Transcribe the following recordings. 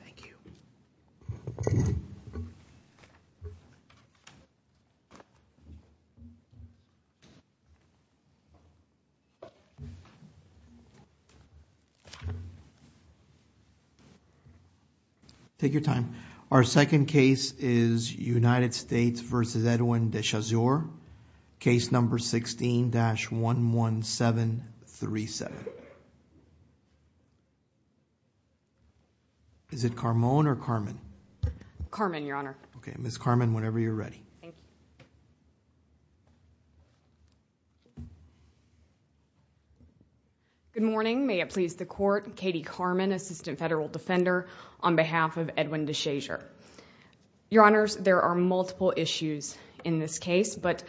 Thank you. Take your time. Our second case is United States v. Edwin Deshazior. Case number 16-11737. Is it Carmon or Carmen? Carmen, Your Honor. Okay. Ms. Carmen, whenever you're ready. Thank you. Good morning. May it please the Court, Katie Carmon, Assistant Federal Defender, on behalf of Edwin Deshazior. Your Honors, there are multiple issues in this case, but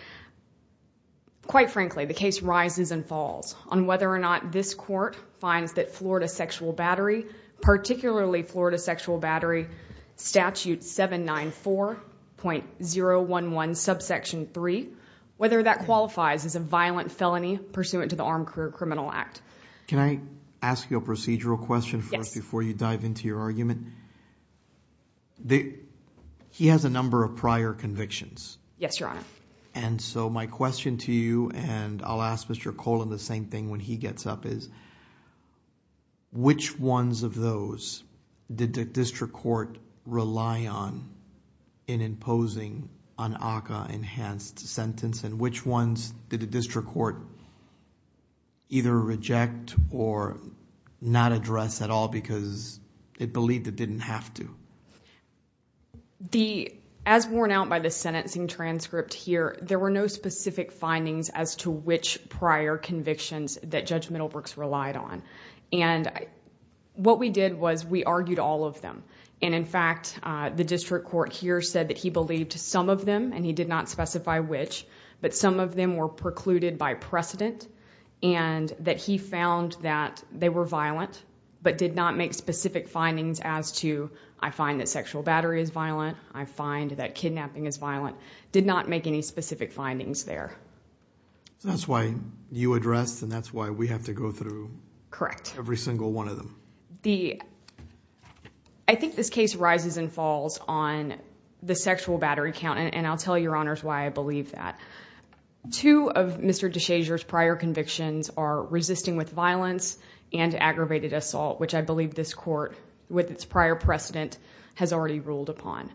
quite frankly, the case rises and falls on whether or not this Court finds that Florida sexual battery, particularly Florida sexual battery statute 794.011 subsection 3, whether that qualifies as a violent felony pursuant to the Armed Career Criminal Act. Can I ask you a procedural question first before you dive into your argument? He has a number of prior convictions. Yes, Your Honor. My question to you, and I'll ask Mr. Colan the same thing when he gets up, is which ones of those did the district court rely on in imposing an ACCA enhanced sentence, and which ones did the district court either reject or not address at all because it believed it didn't have to? As worn out by the sentencing transcript here, there were no specific findings as to which prior convictions that Judge Middlebrooks relied on. What we did was we argued all of them, and in fact, the district court here said that he believed some of them, and he did not specify which, but some of them were precluded by precedent, and that he found that they were violent, but did not make specific findings as to, I find that sexual battery is violent, I find that kidnapping is violent, did not make any specific findings there. That's why you addressed, and that's why we have to go through every single one of them. I think this case rises and falls on the sexual battery count, and I'll tell your honors why I believe that. Two of Mr. DeShazer's prior convictions are resisting with violence and aggravated assault, which I believe this court, with its prior precedent, has already ruled upon.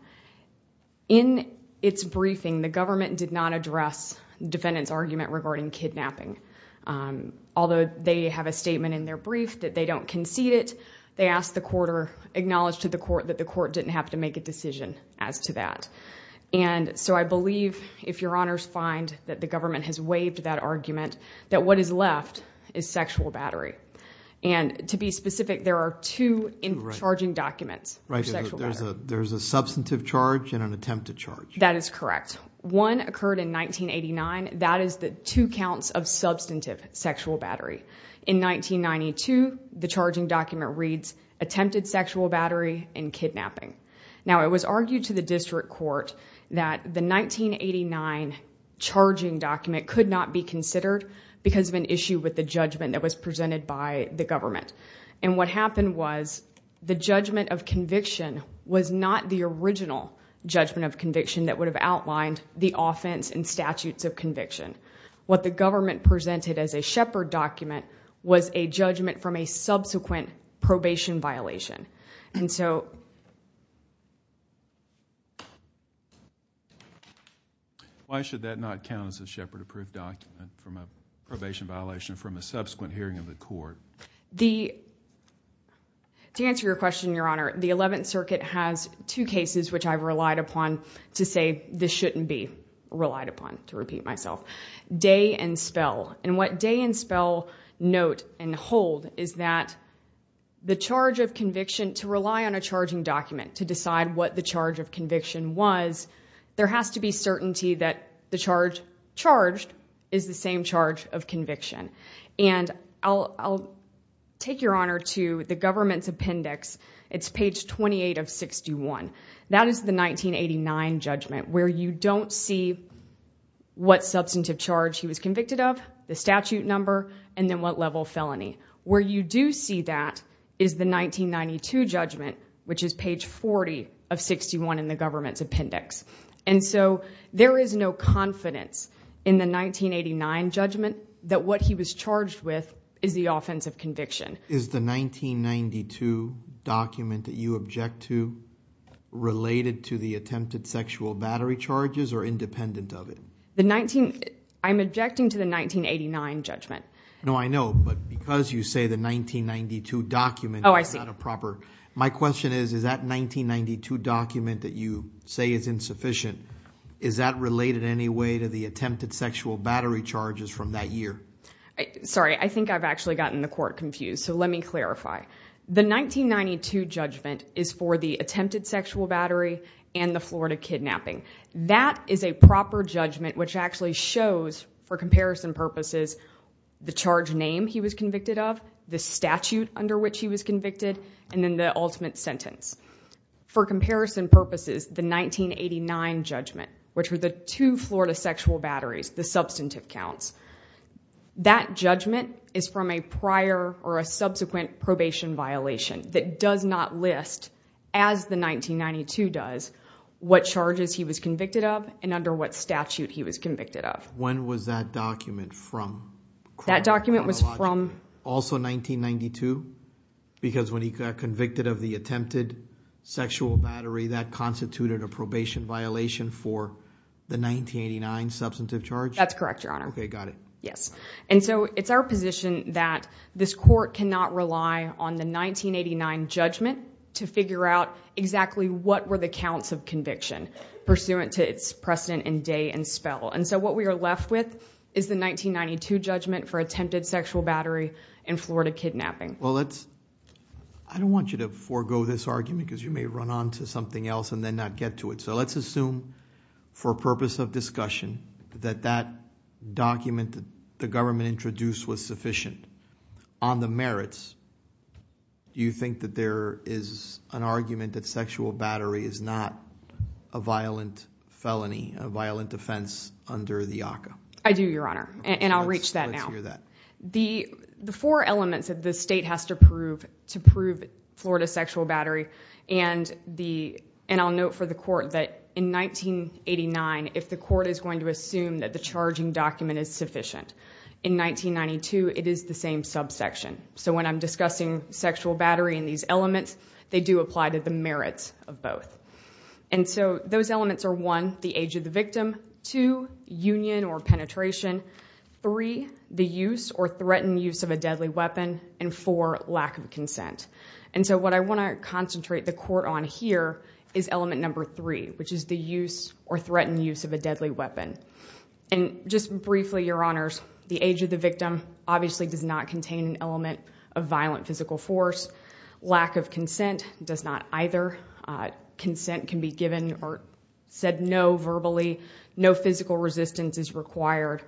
In its briefing, the government did not address the defendant's argument regarding kidnapping, although they have a statement in their brief that they don't concede it. They ask the court or acknowledge to the court that the court didn't have to make a decision as to that. I believe, if your honors find that the government has waived that argument, that what is left is sexual battery. To be specific, there are two charging documents for sexual battery. There's a substantive charge and an attempted charge. That is correct. One occurred in 1989. That is the two counts of substantive sexual battery. In 1992, the charging document reads, attempted sexual battery and kidnapping. Now, it was argued to the district court that the 1989 charging document could not be considered because of an issue with the judgment that was presented by the government. What happened was the judgment of conviction was not the original judgment of conviction that would have outlined the offense and statutes of conviction. What the government presented as a Shepard document was a judgment from a subsequent probation violation. Why should that not count as a Shepard approved document from a probation violation from a subsequent hearing of the court? To answer your question, your honor, the 11th Circuit has two cases which I've relied upon to say this shouldn't be relied upon, to repeat myself. Day and Spell. And what Day and Spell note and hold is that the charge of conviction, to rely on a charging document to decide what the charge of conviction was, there has to be certainty that the charge charged is the same charge of conviction. And I'll take your honor to the government's appendix. It's page 28 of 61. That is the 1989 judgment where you don't see what substantive charge he was convicted of, the statute number, and then what level felony. Where you do see that is the 1992 judgment, which is page 40 of 61 in the government's appendix. And so there is no confidence in the 1989 judgment that what he was charged with is the offense of conviction. Is the 1992 document that you object to related to the attempted sexual battery charges or independent of it? I'm objecting to the 1989 judgment. No, I know, but because you say the 1992 document is not a proper, my question is, is that 1992 document that you say is insufficient, is that related in any way to the attempted sexual battery charges from that year? Sorry. I think I've actually gotten the court confused, so let me clarify. The 1992 judgment is for the attempted sexual battery and the Florida kidnapping. That is a proper judgment which actually shows, for comparison purposes, the charge name he was convicted of, the statute under which he was convicted, and then the ultimate sentence. For comparison purposes, the 1989 judgment, which were the two Florida sexual batteries, the substantive counts, that judgment is from a prior or a subsequent probation violation that does not list, as the 1992 does, what charges he was convicted of and under what statute he was convicted of. When was that document from? That document was from- Also 1992? Because when he got convicted of the attempted sexual battery, that constituted a probation violation for the 1989 substantive charge? That's correct, your honor. Okay, got it. Yes. It's our position that this court cannot rely on the 1989 judgment to figure out exactly what were the counts of conviction pursuant to its precedent and day and spell. What we are left with is the 1992 judgment for attempted sexual battery and Florida kidnapping. I don't want you to forego this argument because you may run onto something else and then not get to it. So let's assume, for purpose of discussion, that that document that the government introduced was sufficient. On the merits, do you think that there is an argument that sexual battery is not a violent felony, a violent offense under the ACCA? I do, your honor. And I'll reach that now. Let's hear that. The four elements that the state has to prove to prove Florida sexual battery and I'll note for the court that in 1989, if the court is going to assume that the charging document is sufficient, in 1992, it is the same subsection. So when I'm discussing sexual battery and these elements, they do apply to the merits of both. And so those elements are one, the age of the victim, two, union or penetration, three, the use or threatened use of a deadly weapon, and four, lack of consent. And so what I want to concentrate the court on here is element number three, which is the use or threatened use of a deadly weapon. And just briefly, your honors, the age of the victim obviously does not contain an element of violent physical force. Lack of consent does not either. Consent can be given or said no verbally. No physical resistance is required.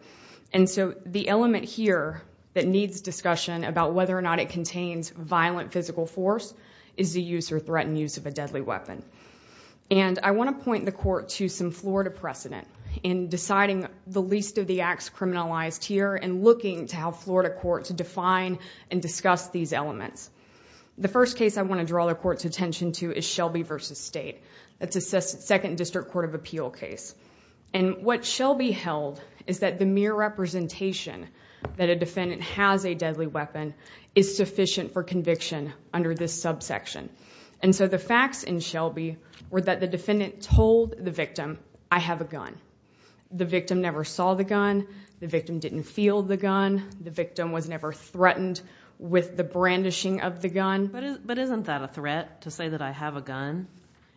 And so the element here that needs discussion about whether or not it contains violent physical force is the use or threatened use of a deadly weapon. And I want to point the court to some Florida precedent in deciding the least of the acts criminalized here and looking to have Florida court to define and discuss these elements. The first case I want to draw the court's attention to is Shelby v. State. That's a second district court of appeal case. And what Shelby held is that the mere representation that a defendant has a deadly weapon is sufficient for conviction under this subsection. And so the facts in Shelby were that the defendant told the victim, I have a gun. The victim never saw the gun. The victim didn't feel the gun. The victim was never threatened with the brandishing of the gun.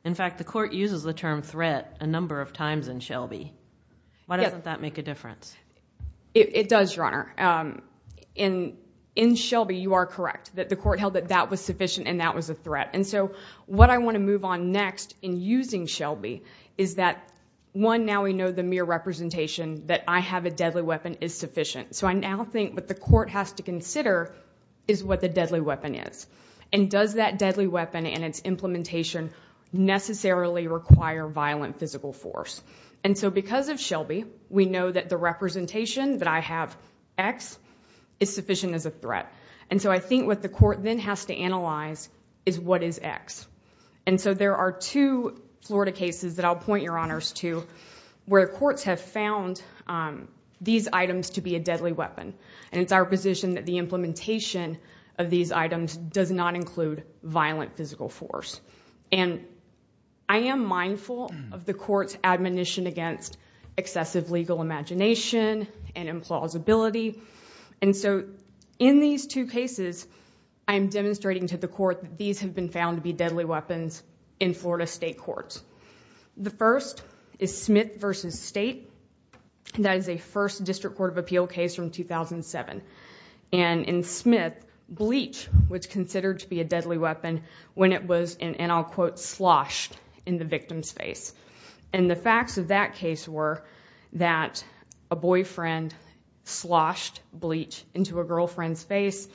In fact, the court uses the term threat a number of times in Shelby. Why doesn't that make a difference? It does, Your Honor. In Shelby, you are correct that the court held that that was sufficient and that was a threat. And so what I want to move on next in using Shelby is that one, now we know the mere representation that I have a deadly weapon is sufficient. So I now think what the court has to consider is what the deadly weapon is. And does that deadly weapon and its implementation necessarily require violent physical force? And so because of Shelby, we know that the representation that I have, X, is sufficient as a threat. And so I think what the court then has to analyze is what is X? And so there are two Florida cases that I'll point Your Honors to where courts have found these items to be a deadly weapon. And it's our position that the implementation of these items does not include violent physical force. And I am mindful of the court's admonition against excessive legal imagination and implausibility. And so in these two cases, I'm demonstrating to the court that these have been found to be deadly weapons in Florida state courts. The first is Smith v. State, and that is a first District Court of Appeal case from 2007. And in Smith, bleach was considered to be a deadly weapon when it was, and I'll quote, sloshed in the victim's face. And the facts of that case were that a boyfriend sloshed bleach into a girlfriend's face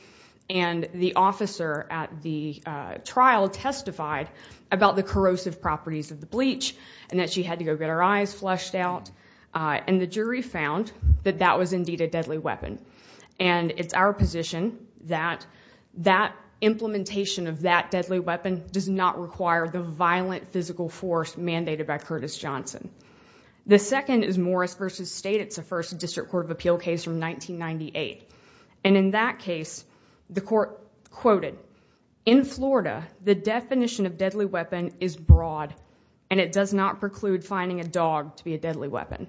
and the officer at the trial testified about the corrosive properties of the bleach and that she had to go get her eyes flushed out. And the jury found that that was indeed a deadly weapon. And it's our position that that implementation of that deadly weapon does not require the violent physical force mandated by Curtis Johnson. The second is Morris v. State. It's a first District Court of Appeal case from 1998. And in that case, the court quoted, in Florida, the definition of deadly weapon is broad and it does not preclude finding a dog to be a deadly weapon.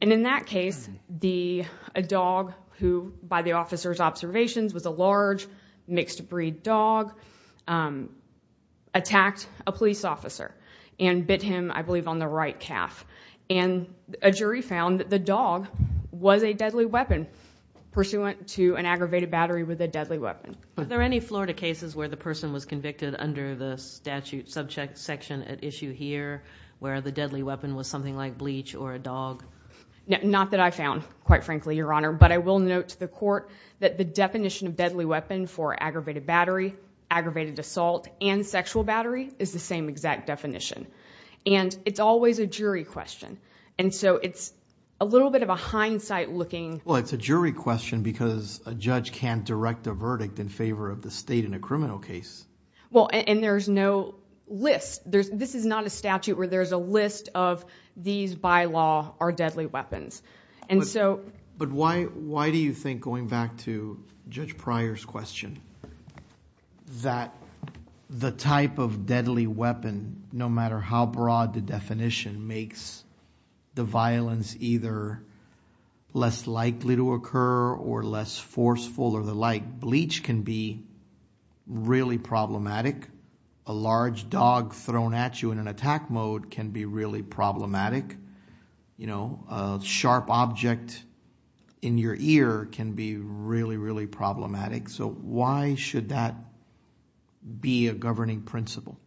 And in that case, a dog who, by the officer's observations, was a large mixed breed dog, attacked a police officer and bit him, I believe, on the right calf. And a jury found that the dog was a deadly weapon pursuant to an aggravated battery with a deadly weapon. Are there any Florida cases where the person was convicted under the statute subject section at issue here, where the deadly weapon was something like bleach or a dog? Not that I found, quite frankly, Your Honor. But I will note to the court that the definition of deadly weapon for aggravated battery, aggravated assault, and sexual battery is the same exact definition. And it's always a jury question. And so it's a little bit of a hindsight looking- Well, it's a jury question because a judge can't direct a verdict in favor of the state in a criminal case. Well, and there's no list. This is not a statute where there's a list of these bylaw are deadly weapons. And so- But why do you think, going back to Judge Pryor's question, that the type of deadly weapon, no matter how broad the definition, makes the violence either less likely to occur or less forceful or the like? Bleach can be really problematic. A large dog thrown at you in an attack mode can be really problematic. A sharp object in your ear can be really, really problematic. So why should that be a governing principle?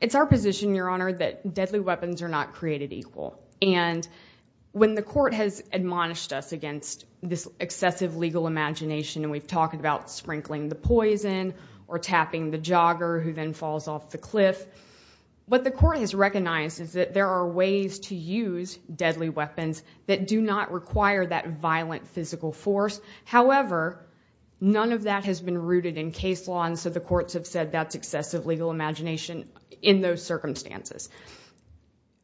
It's our position, Your Honor, that deadly weapons are not created equal. And when the court has admonished us against this excessive legal imagination, and we've talked about sprinkling the poison or tapping the jogger who then falls off the cliff. What the court has recognized is that there are ways to use deadly weapons that do not require that violent physical force. However, none of that has been rooted in case law. And so the courts have said that's excessive legal imagination in those circumstances.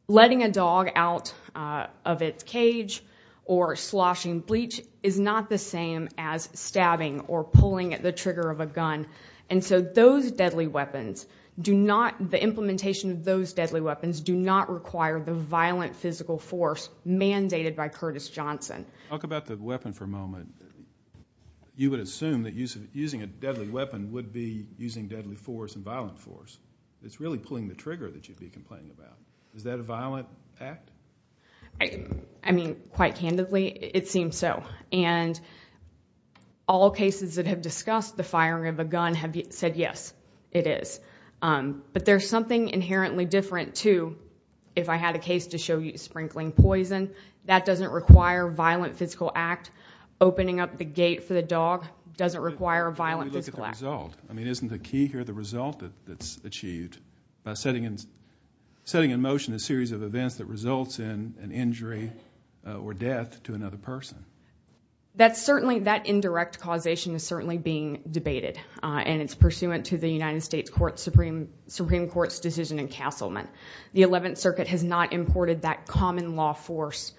Letting a dog out of its cage or sloshing bleach is not the same as stabbing or pulling at the trigger of a gun. And so those deadly weapons do not, the implementation of those deadly weapons, do not require the violent physical force mandated by Curtis Johnson. Talk about the weapon for a moment. You would assume that using a deadly weapon would be using deadly force and violent force. It's really pulling the trigger that you'd be complaining about. Is that a violent act? I mean, quite candidly, it seems so. And all cases that have discussed the firing of a gun have said yes, it is. But there's something inherently different, too, if I had a case to show you sprinkling poison. That doesn't require a violent physical act. Opening up the gate for the dog doesn't require a violent physical act. When we look at the result, I mean, isn't the key here the result that's achieved? By setting in motion a series of events that results in an injury or death to another person. That's certainly, that indirect causation is certainly being debated. And it's pursuant to the United States Supreme Court's decision in Castleman. The 11th Circuit has not imported that common law force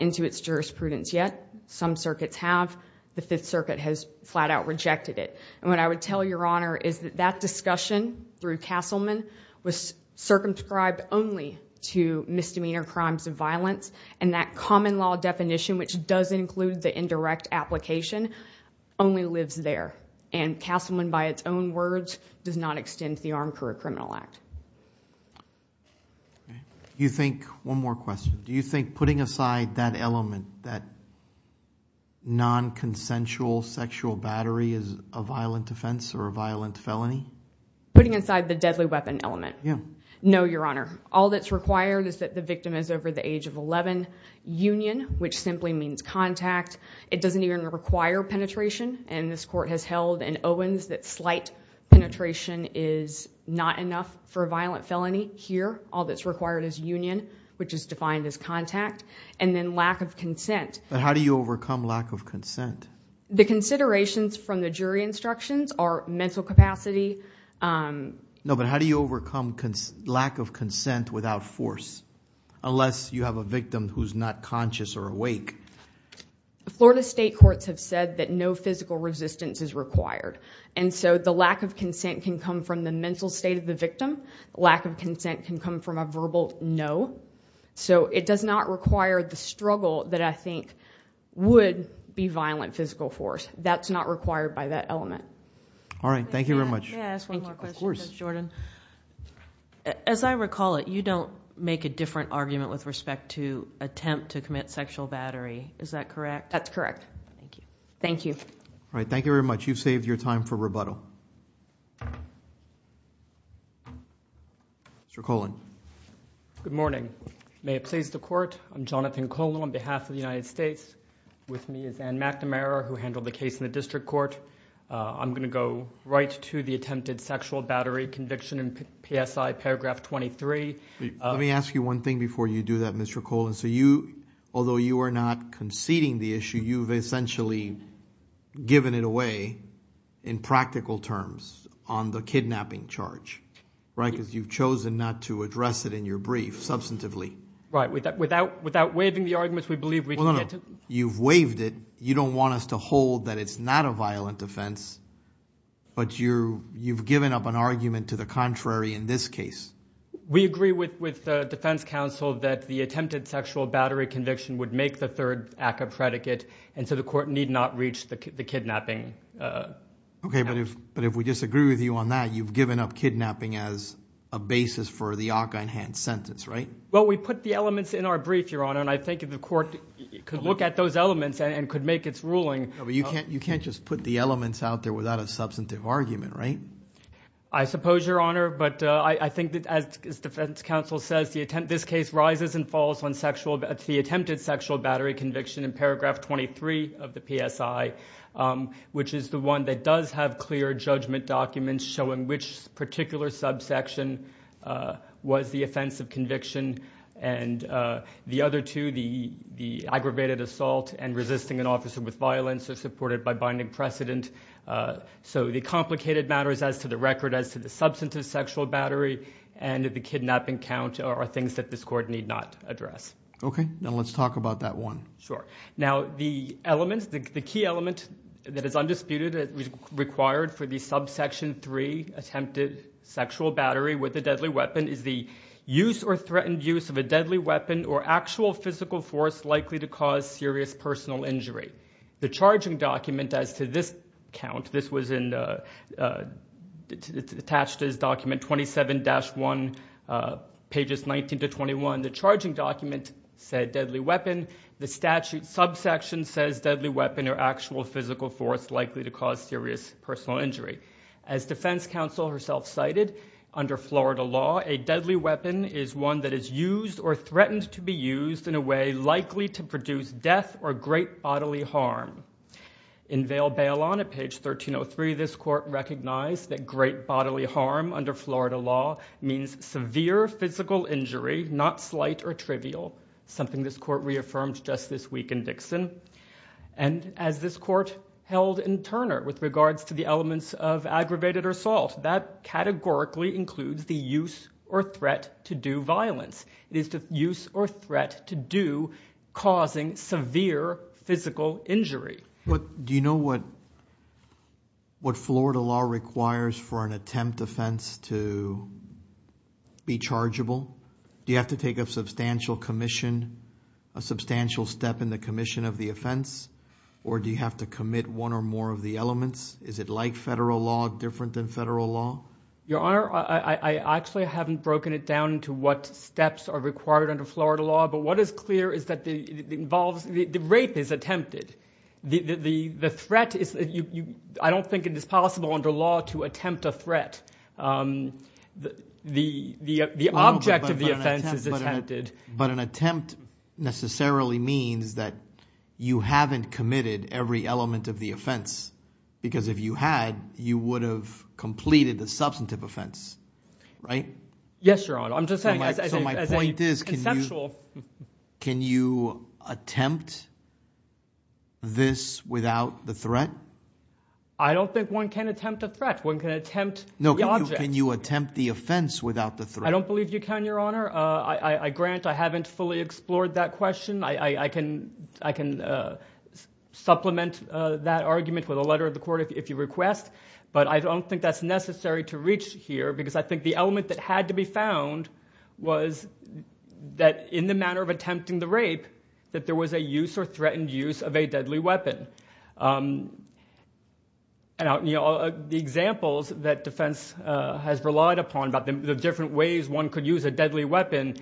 into its jurisprudence yet. Some circuits have. The 5th Circuit has flat out rejected it. And what I would tell your honor is that that discussion through Castleman was circumscribed only to misdemeanor crimes of violence. And that common law definition, which does include the indirect application, only lives there. And Castleman, by its own words, does not extend the Armed Career Criminal Act. Okay. You think, one more question, do you think putting aside that element, that non-consensual sexual battery is a violent offense or a violent felony? Putting aside the deadly weapon element. Yeah. No, your honor. All that's required is that the victim is over the age of 11. Union, which simply means contact. It doesn't even require penetration. And this court has held in Owens that slight penetration is not enough for all that's required is union, which is defined as contact. And then lack of consent. But how do you overcome lack of consent? The considerations from the jury instructions are mental capacity. No, but how do you overcome lack of consent without force? Unless you have a victim who's not conscious or awake. Florida state courts have said that no physical resistance is required. Lack of consent can come from a verbal no. So it does not require the struggle that I think would be violent physical force. That's not required by that element. All right, thank you very much. May I ask one more question? Of course. Ms. Jordan. As I recall it, you don't make a different argument with respect to attempt to commit sexual battery. Is that correct? That's correct. Thank you. All right, thank you very much. You've saved your time for rebuttal. Mr. Colon. Good morning. May it please the court, I'm Jonathan Colon on behalf of the United States. With me is Ann McNamara, who handled the case in the district court. I'm going to go right to the attempted sexual battery conviction in PSI paragraph 23. Let me ask you one thing before you do that, Mr. Colon. So you, although you are not conceding the issue, you've essentially given it away in practical terms on the kidnapping charge. Right, because you've chosen not to address it in your brief substantively. Right, without waiving the arguments, we believe we can get to- Well, no, no. You've waived it. You don't want us to hold that it's not a violent offense, but you've given up an argument to the contrary in this case. We agree with the defense counsel that the attempted sexual battery conviction would make the third act a predicate, and so the court need not reach the kidnapping. Okay, but if we disagree with you on that, you've given up kidnapping as a basis for the Ockhine-Hance sentence, right? Well, we put the elements in our brief, Your Honor, and I think if the court could look at those elements and could make its ruling- No, but you can't just put the elements out there without a substantive argument, right? I suppose, Your Honor, but I think that as defense counsel says, this case rises and falls on the attempted sexual battery conviction in paragraph 23 of the PSI, which is the one that does have clear judgment documents showing which particular subsection was the offense of conviction. And the other two, the aggravated assault and resisting an officer with violence are supported by binding precedent. So the complicated matters as to the record as to the substantive sexual battery and the kidnapping count are things that this court need not address. Okay, now let's talk about that one. Now, the key element that is undisputed that is required for the subsection three, attempted sexual battery with a deadly weapon, is the use or threatened use of a deadly weapon or actual physical force likely to cause serious personal injury. The charging document as to this count, this was attached as document 27-1, pages 19 to 21. The charging document said deadly weapon. The statute subsection says deadly weapon or actual physical force likely to cause serious personal injury. As defense counsel herself cited, under Florida law, a deadly weapon is one that is used or threatened to be used in a way likely to produce death or great bodily harm. In Vale Bailon at page 1303, this court recognized that great bodily harm under slight or trivial, something this court reaffirmed just this week in Dixon. And as this court held in Turner with regards to the elements of aggravated assault, that categorically includes the use or threat to do violence. It is the use or threat to do causing severe physical injury. What, do you know what, what Florida law requires for an attempt offense to be chargeable? Do you have to take a substantial commission, a substantial step in the commission of the offense? Or do you have to commit one or more of the elements? Is it like federal law, different than federal law? Your Honor, I actually haven't broken it down into what steps are required under Florida law, but what is clear is that it involves, the rape is attempted. The threat is, I don't think it is possible under law to attempt a threat. The object of the offense is attempted. But an attempt necessarily means that you haven't committed every element of the offense. Because if you had, you would have completed the substantive offense, right? Yes, Your Honor. I'm just saying as a conceptual. Can you attempt this without the threat? I don't think one can attempt a threat. One can attempt the object. No, can you attempt the offense without the threat? I don't believe you can, Your Honor. I grant I haven't fully explored that question. I can supplement that argument with a letter of the court if you request. But I don't think that's necessary to reach here, because I think the element that had to be found was that in the manner of attempting the rape, that there was a use or threatened use of a deadly weapon. The examples that defense has relied upon about the different ways one could use a deadly weapon,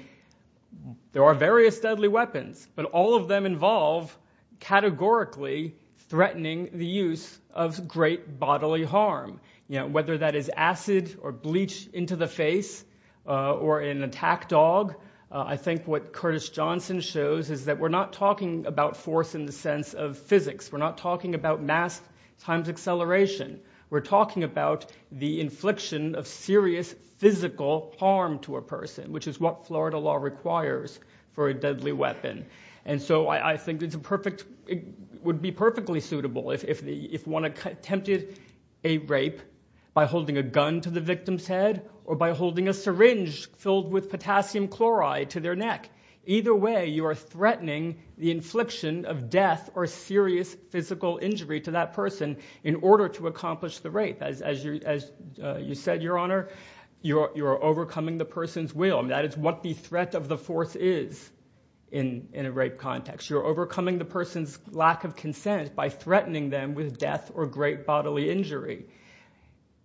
there are various deadly weapons. But all of them involve categorically threatening the use of great bodily harm. Whether that is acid or bleach into the face or an attack dog, I think what Curtis Johnson shows is that we're not talking about force in the sense of physics, we're not talking about mass times acceleration. We're talking about the infliction of serious physical harm to a person, which is what Florida law requires for a deadly weapon. And so I think it would be perfectly suitable if one attempted a rape by holding a gun to the victim's head or by holding a syringe filled with potassium chloride to their neck. Either way, you are threatening the infliction of death or serious physical injury to that person in order to accomplish the rape. As you said, Your Honor, you are overcoming the person's will. That is what the threat of the force is in a rape context. You're overcoming the person's lack of consent by threatening them with death or great bodily injury.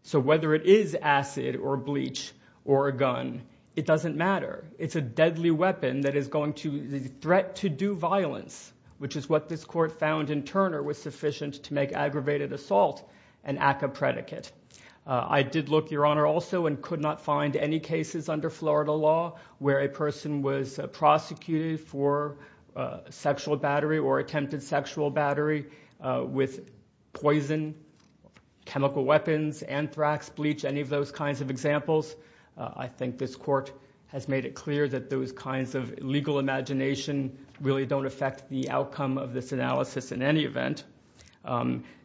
So whether it is acid or bleach or a gun, it doesn't matter. It's a deadly weapon that is going to, the threat to do violence, which is what this court found in Turner, was sufficient to make aggravated assault an act of predicate. I did look, Your Honor, also and could not find any cases under Florida law where a person was prosecuted for sexual battery or attempted sexual battery with poison, chemical weapons, anthrax, bleach, any of those kinds of examples. I think this court has made it clear that those kinds of legal imagination really don't affect the outcome of this analysis in any event.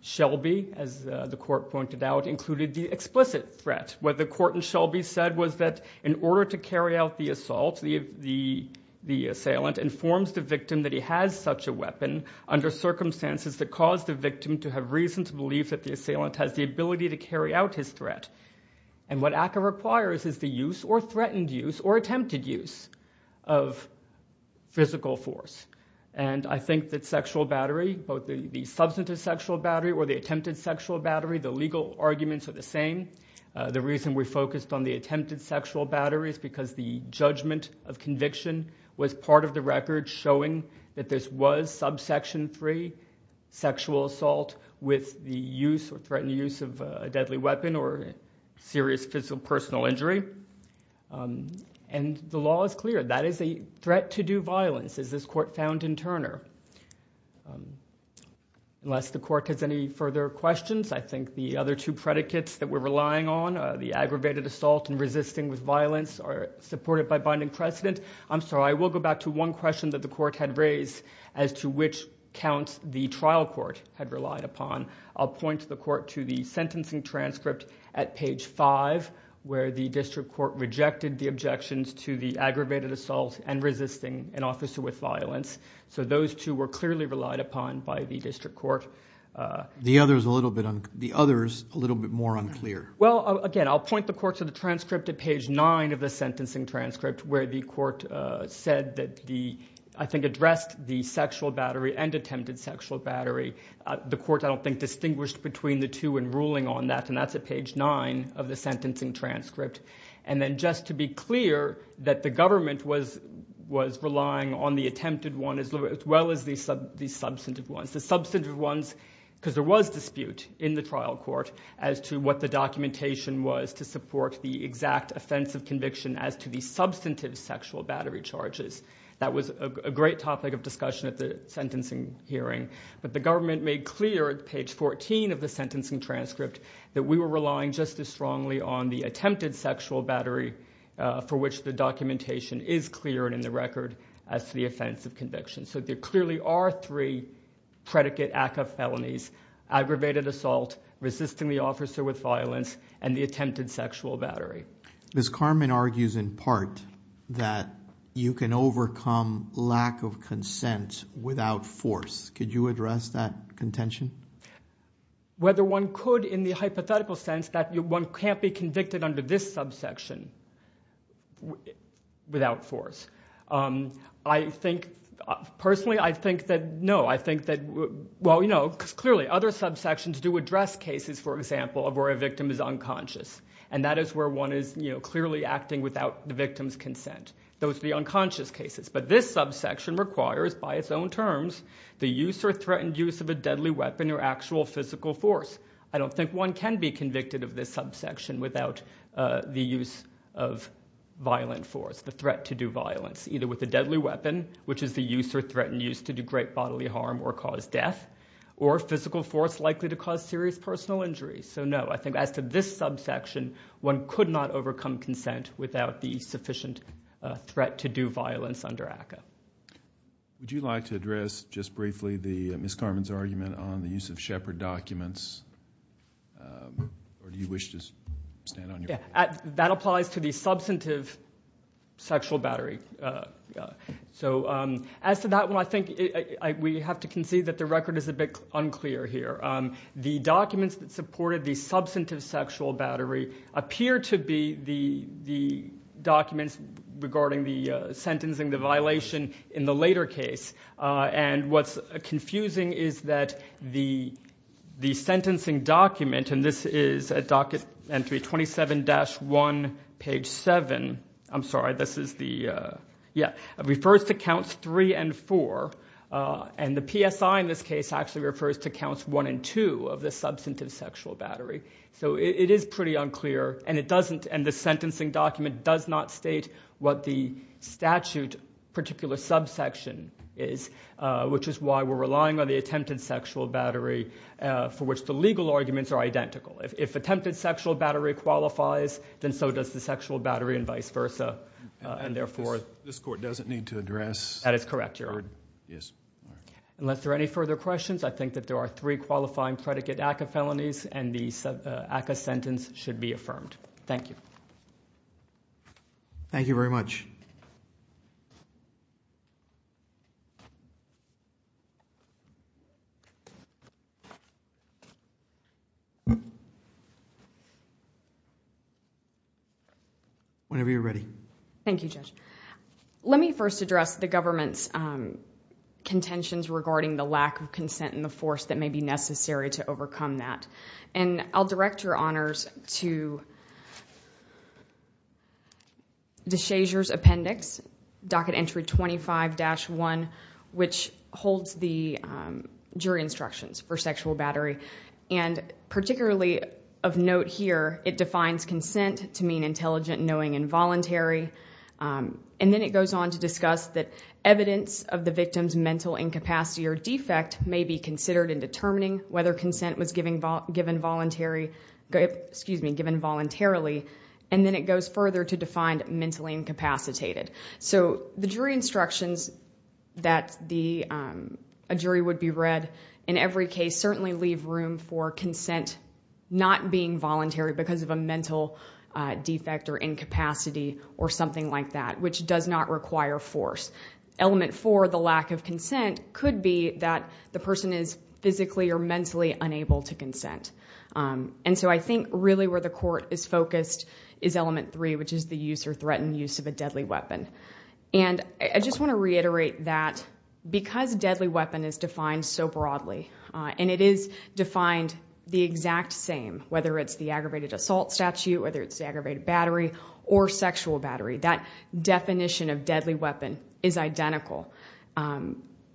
Shelby, as the court pointed out, included the explicit threat. What the court in Shelby said was that in order to carry out the assault, the assailant informs the victim that he has such a weapon under circumstances that cause the victim to have reason to believe that the assailant has the ability to carry out his threat. And what ACCA requires is the use or threatened use or attempted use of physical force. And I think that sexual battery, both the substantive sexual battery or the attempted sexual battery, the legal arguments are the same. The reason we focused on the attempted sexual battery is because the judgment of conviction was part of the record showing that this was subsection three sexual assault with the use or threatened use of a deadly weapon or serious physical or personal injury. And the law is clear, that is a threat to do violence, as this court found in Turner. Unless the court has any further questions, I think the other two predicates that we're relying on, the aggravated assault and resisting with violence, are supported by binding precedent. I'm sorry, I will go back to one question that the court had raised as to which counts the trial court had relied upon. I'll point the court to the sentencing transcript at page five, where the district court rejected the objections to the aggravated assault and resisting an officer with violence. So those two were clearly relied upon by the district court. The other is a little bit more unclear. Well, again, I'll point the court to the transcript at page nine of the sentencing transcript, where the court said that the, I think, addressed the sexual battery and attempted sexual battery. The court, I don't think, distinguished between the two in ruling on that, and that's at page nine of the sentencing transcript. And then just to be clear, that the government was relying on the attempted one as well as the substantive ones. The substantive ones, because there was dispute in the trial court as to the substantive sexual battery charges. That was a great topic of discussion at the sentencing hearing. But the government made clear at page 14 of the sentencing transcript that we were relying just as strongly on the attempted sexual battery for which the documentation is clear and in the record as to the offense of conviction. So there clearly are three predicate ACCA felonies, aggravated assault, resisting the officer with violence, and the attempted sexual battery. Ms. Karman argues in part that you can overcome lack of consent without force. Could you address that contention? Whether one could in the hypothetical sense that one can't be convicted under this subsection without force. I think, personally, I think that no. I think that, well, you know, because clearly other subsections do address cases, for example, of where a victim is unconscious. And that is where one is clearly acting without the victim's consent. Those are the unconscious cases. But this subsection requires, by its own terms, the use or threatened use of a deadly weapon or actual physical force. I don't think one can be convicted of this subsection without the use of violent force, the threat to do violence, either with a deadly weapon, which is the use or threatened use to do great bodily harm or cause death, or physical force likely to cause serious personal injury. So, no, I think as to this subsection, one could not overcome consent without the sufficient threat to do violence under ACCA. Would you like to address, just briefly, Ms. Karman's argument on the use of Shepard documents? Or do you wish to stand on your own? That applies to the substantive sexual battery. So, as to that one, I think we have to concede that the record is a bit unclear here. The documents that supported the substantive sexual battery appear to be the documents regarding the sentencing, the violation in the later case. And what's confusing is that the sentencing document, and this is at docket entry 27-1, page 7, I'm sorry, this is the, yeah, refers to counts three and four. And the PSI in this case actually refers to counts one and two of the substantive sexual battery. So it is pretty unclear, and it doesn't, and the sentencing document does not state what the statute particular subsection is, which is why we're relying on the attempted sexual battery for which the legal arguments are identical. If attempted sexual battery qualifies, then so does the sexual battery and vice versa. And therefore- This court doesn't need to address- That is correct, Your Honor. Yes. Unless there are any further questions, I think that there are three qualifying predicate ACCA felonies, and the ACCA sentence should be affirmed. Thank you. Thank you very much. Whenever you're ready. Thank you, Judge. Let me first address the government's contentions regarding the lack of consent and the force that may be necessary to overcome that. And I'll direct Your Honors to DeShazer's appendix, docket entry 25-1, which holds the jury instructions for sexual battery. And particularly of note here, it defines consent to mean intelligent, knowing, and voluntary. And then it goes on to discuss that evidence of the victim's mental incapacity or defect may be considered in determining whether consent was given voluntarily. And then it goes further to define mentally incapacitated. So the jury instructions that a jury would be read in every case certainly leave room for consent not being voluntary because of a mental defect or incapacity or something like that, which does not require force. Element four, the lack of consent, could be that the person is physically or mentally unable to consent. And so I think really where the court is focused is element three, which is the use or threatened use of a deadly weapon. And I just want to reiterate that because deadly weapon is defined so broadly, and it is defined the exact same, whether it's the aggravated assault statute, whether it's the aggravated battery, or sexual battery. That definition of deadly weapon is identical.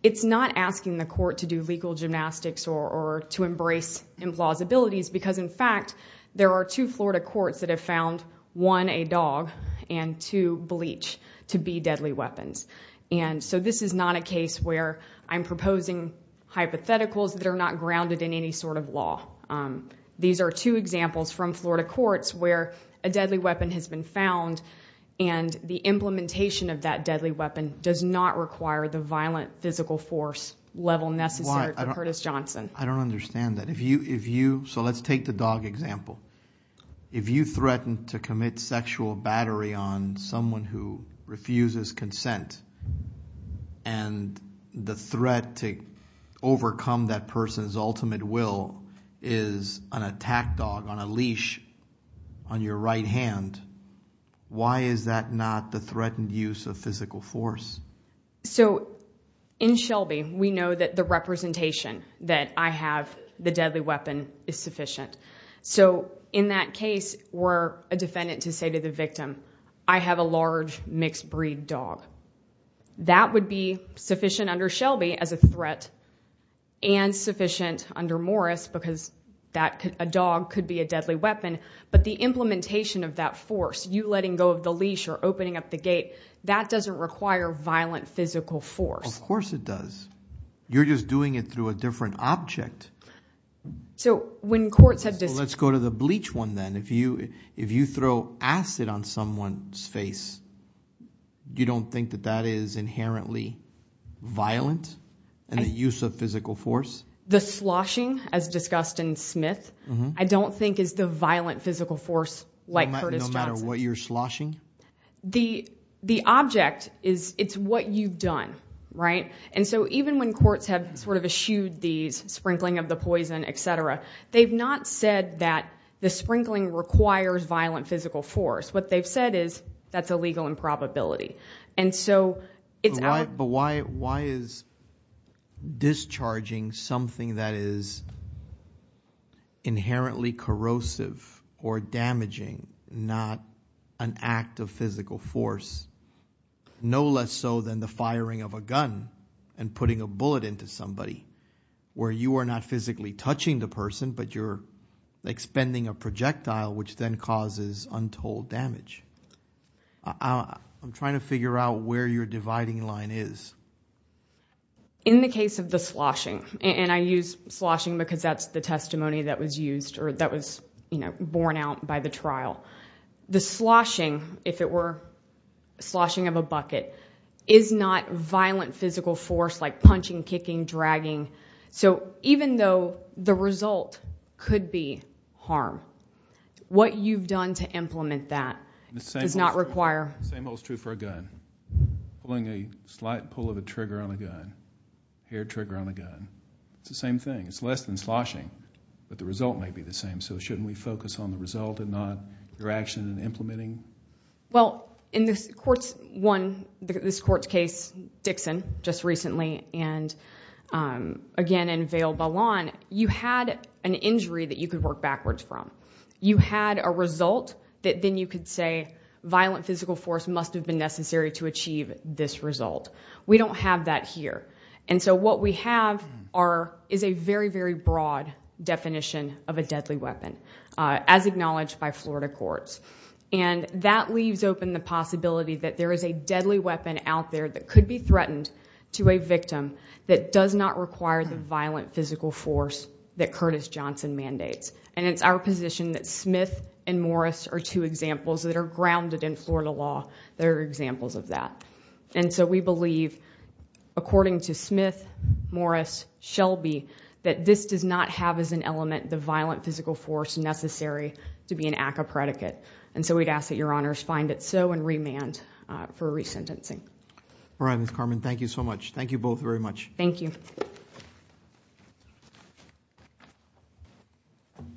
It's not asking the court to do legal gymnastics or to embrace implausibilities because, in fact, there are two Florida courts that have found one, a dog, and two, bleach to be deadly weapons. And so this is not a case where I'm proposing hypotheticals that are not grounded in any sort of law. These are two examples from Florida courts where a deadly weapon has been found, and the implementation of that deadly weapon does not require the violent physical force level necessary for Curtis Johnson. I don't understand that. So let's take the dog example. If you threaten to commit sexual battery on someone who refuses consent, and the threat to overcome that person's ultimate will is an attack dog on a leash on your right hand, why is that not the threatened use of physical force? So in Shelby, we know that the representation that I have, the deadly weapon, is sufficient. So in that case, were a defendant to say to the victim, I have a large mixed breed dog. That would be sufficient under Shelby as a threat, and sufficient under Morris because a dog could be a deadly weapon. But the implementation of that force, you letting go of the leash or opening up the gate, that doesn't require violent physical force. Of course it does. You're just doing it through a different object. So when courts have discussed- Let's go to the bleach one then. If you throw acid on someone's face, you don't think that that is inherently violent in the use of physical force? The sloshing, as discussed in Smith, I don't think is the violent physical force like Curtis Johnson's. No matter what you're sloshing? The object is, it's what you've done, right? And so even when courts have sort of eschewed these, sprinkling of the poison, et cetera, they've not said that the sprinkling requires violent physical force. What they've said is, that's illegal in probability. And so it's- But why is discharging something that is inherently corrosive or damaging, not an act of physical force? No less so than the firing of a gun and putting a bullet into somebody, where you are not physically touching the person, but you're expending a projectile, which then causes untold damage. I'm trying to figure out where your dividing line is. In the case of the sloshing, and I use sloshing because that's the testimony that was used or that was, you know, borne out by the trial. The sloshing, if it were sloshing of a bucket, is not violent physical force like punching, kicking, dragging. So even though the result could be harm, what you've done to implement that does not require- The same holds true for a gun. Pulling a slight pull of a trigger on a gun, hair trigger on a gun. It's the same thing. It's less than sloshing, but the result may be the same. So shouldn't we focus on the result and not your action in implementing? Well, in this court's case, Dixon, just recently, and again in Vail Ballon, you had an injury that you could work backwards from. You had a result that then you could say violent physical force must have been necessary to achieve this result. We don't have that here. And so what we have is a very, very broad definition of a deadly weapon, as acknowledged by Florida courts. And that leaves open the possibility that there is a deadly weapon out there that could be threatened to a victim that does not require the violent physical force that Curtis Johnson mandates. And it's our position that Smith and Morris are two examples that are grounded in Florida law. They're examples of that. And so we believe, according to Smith, Morris, Shelby, that this does not have as an element the violent physical force necessary to be an ACCA predicate. And so we'd ask that your honors find it so and remand for resentencing. All right, Ms. Carmen. Thank you so much. Thank you both very much. Thank you.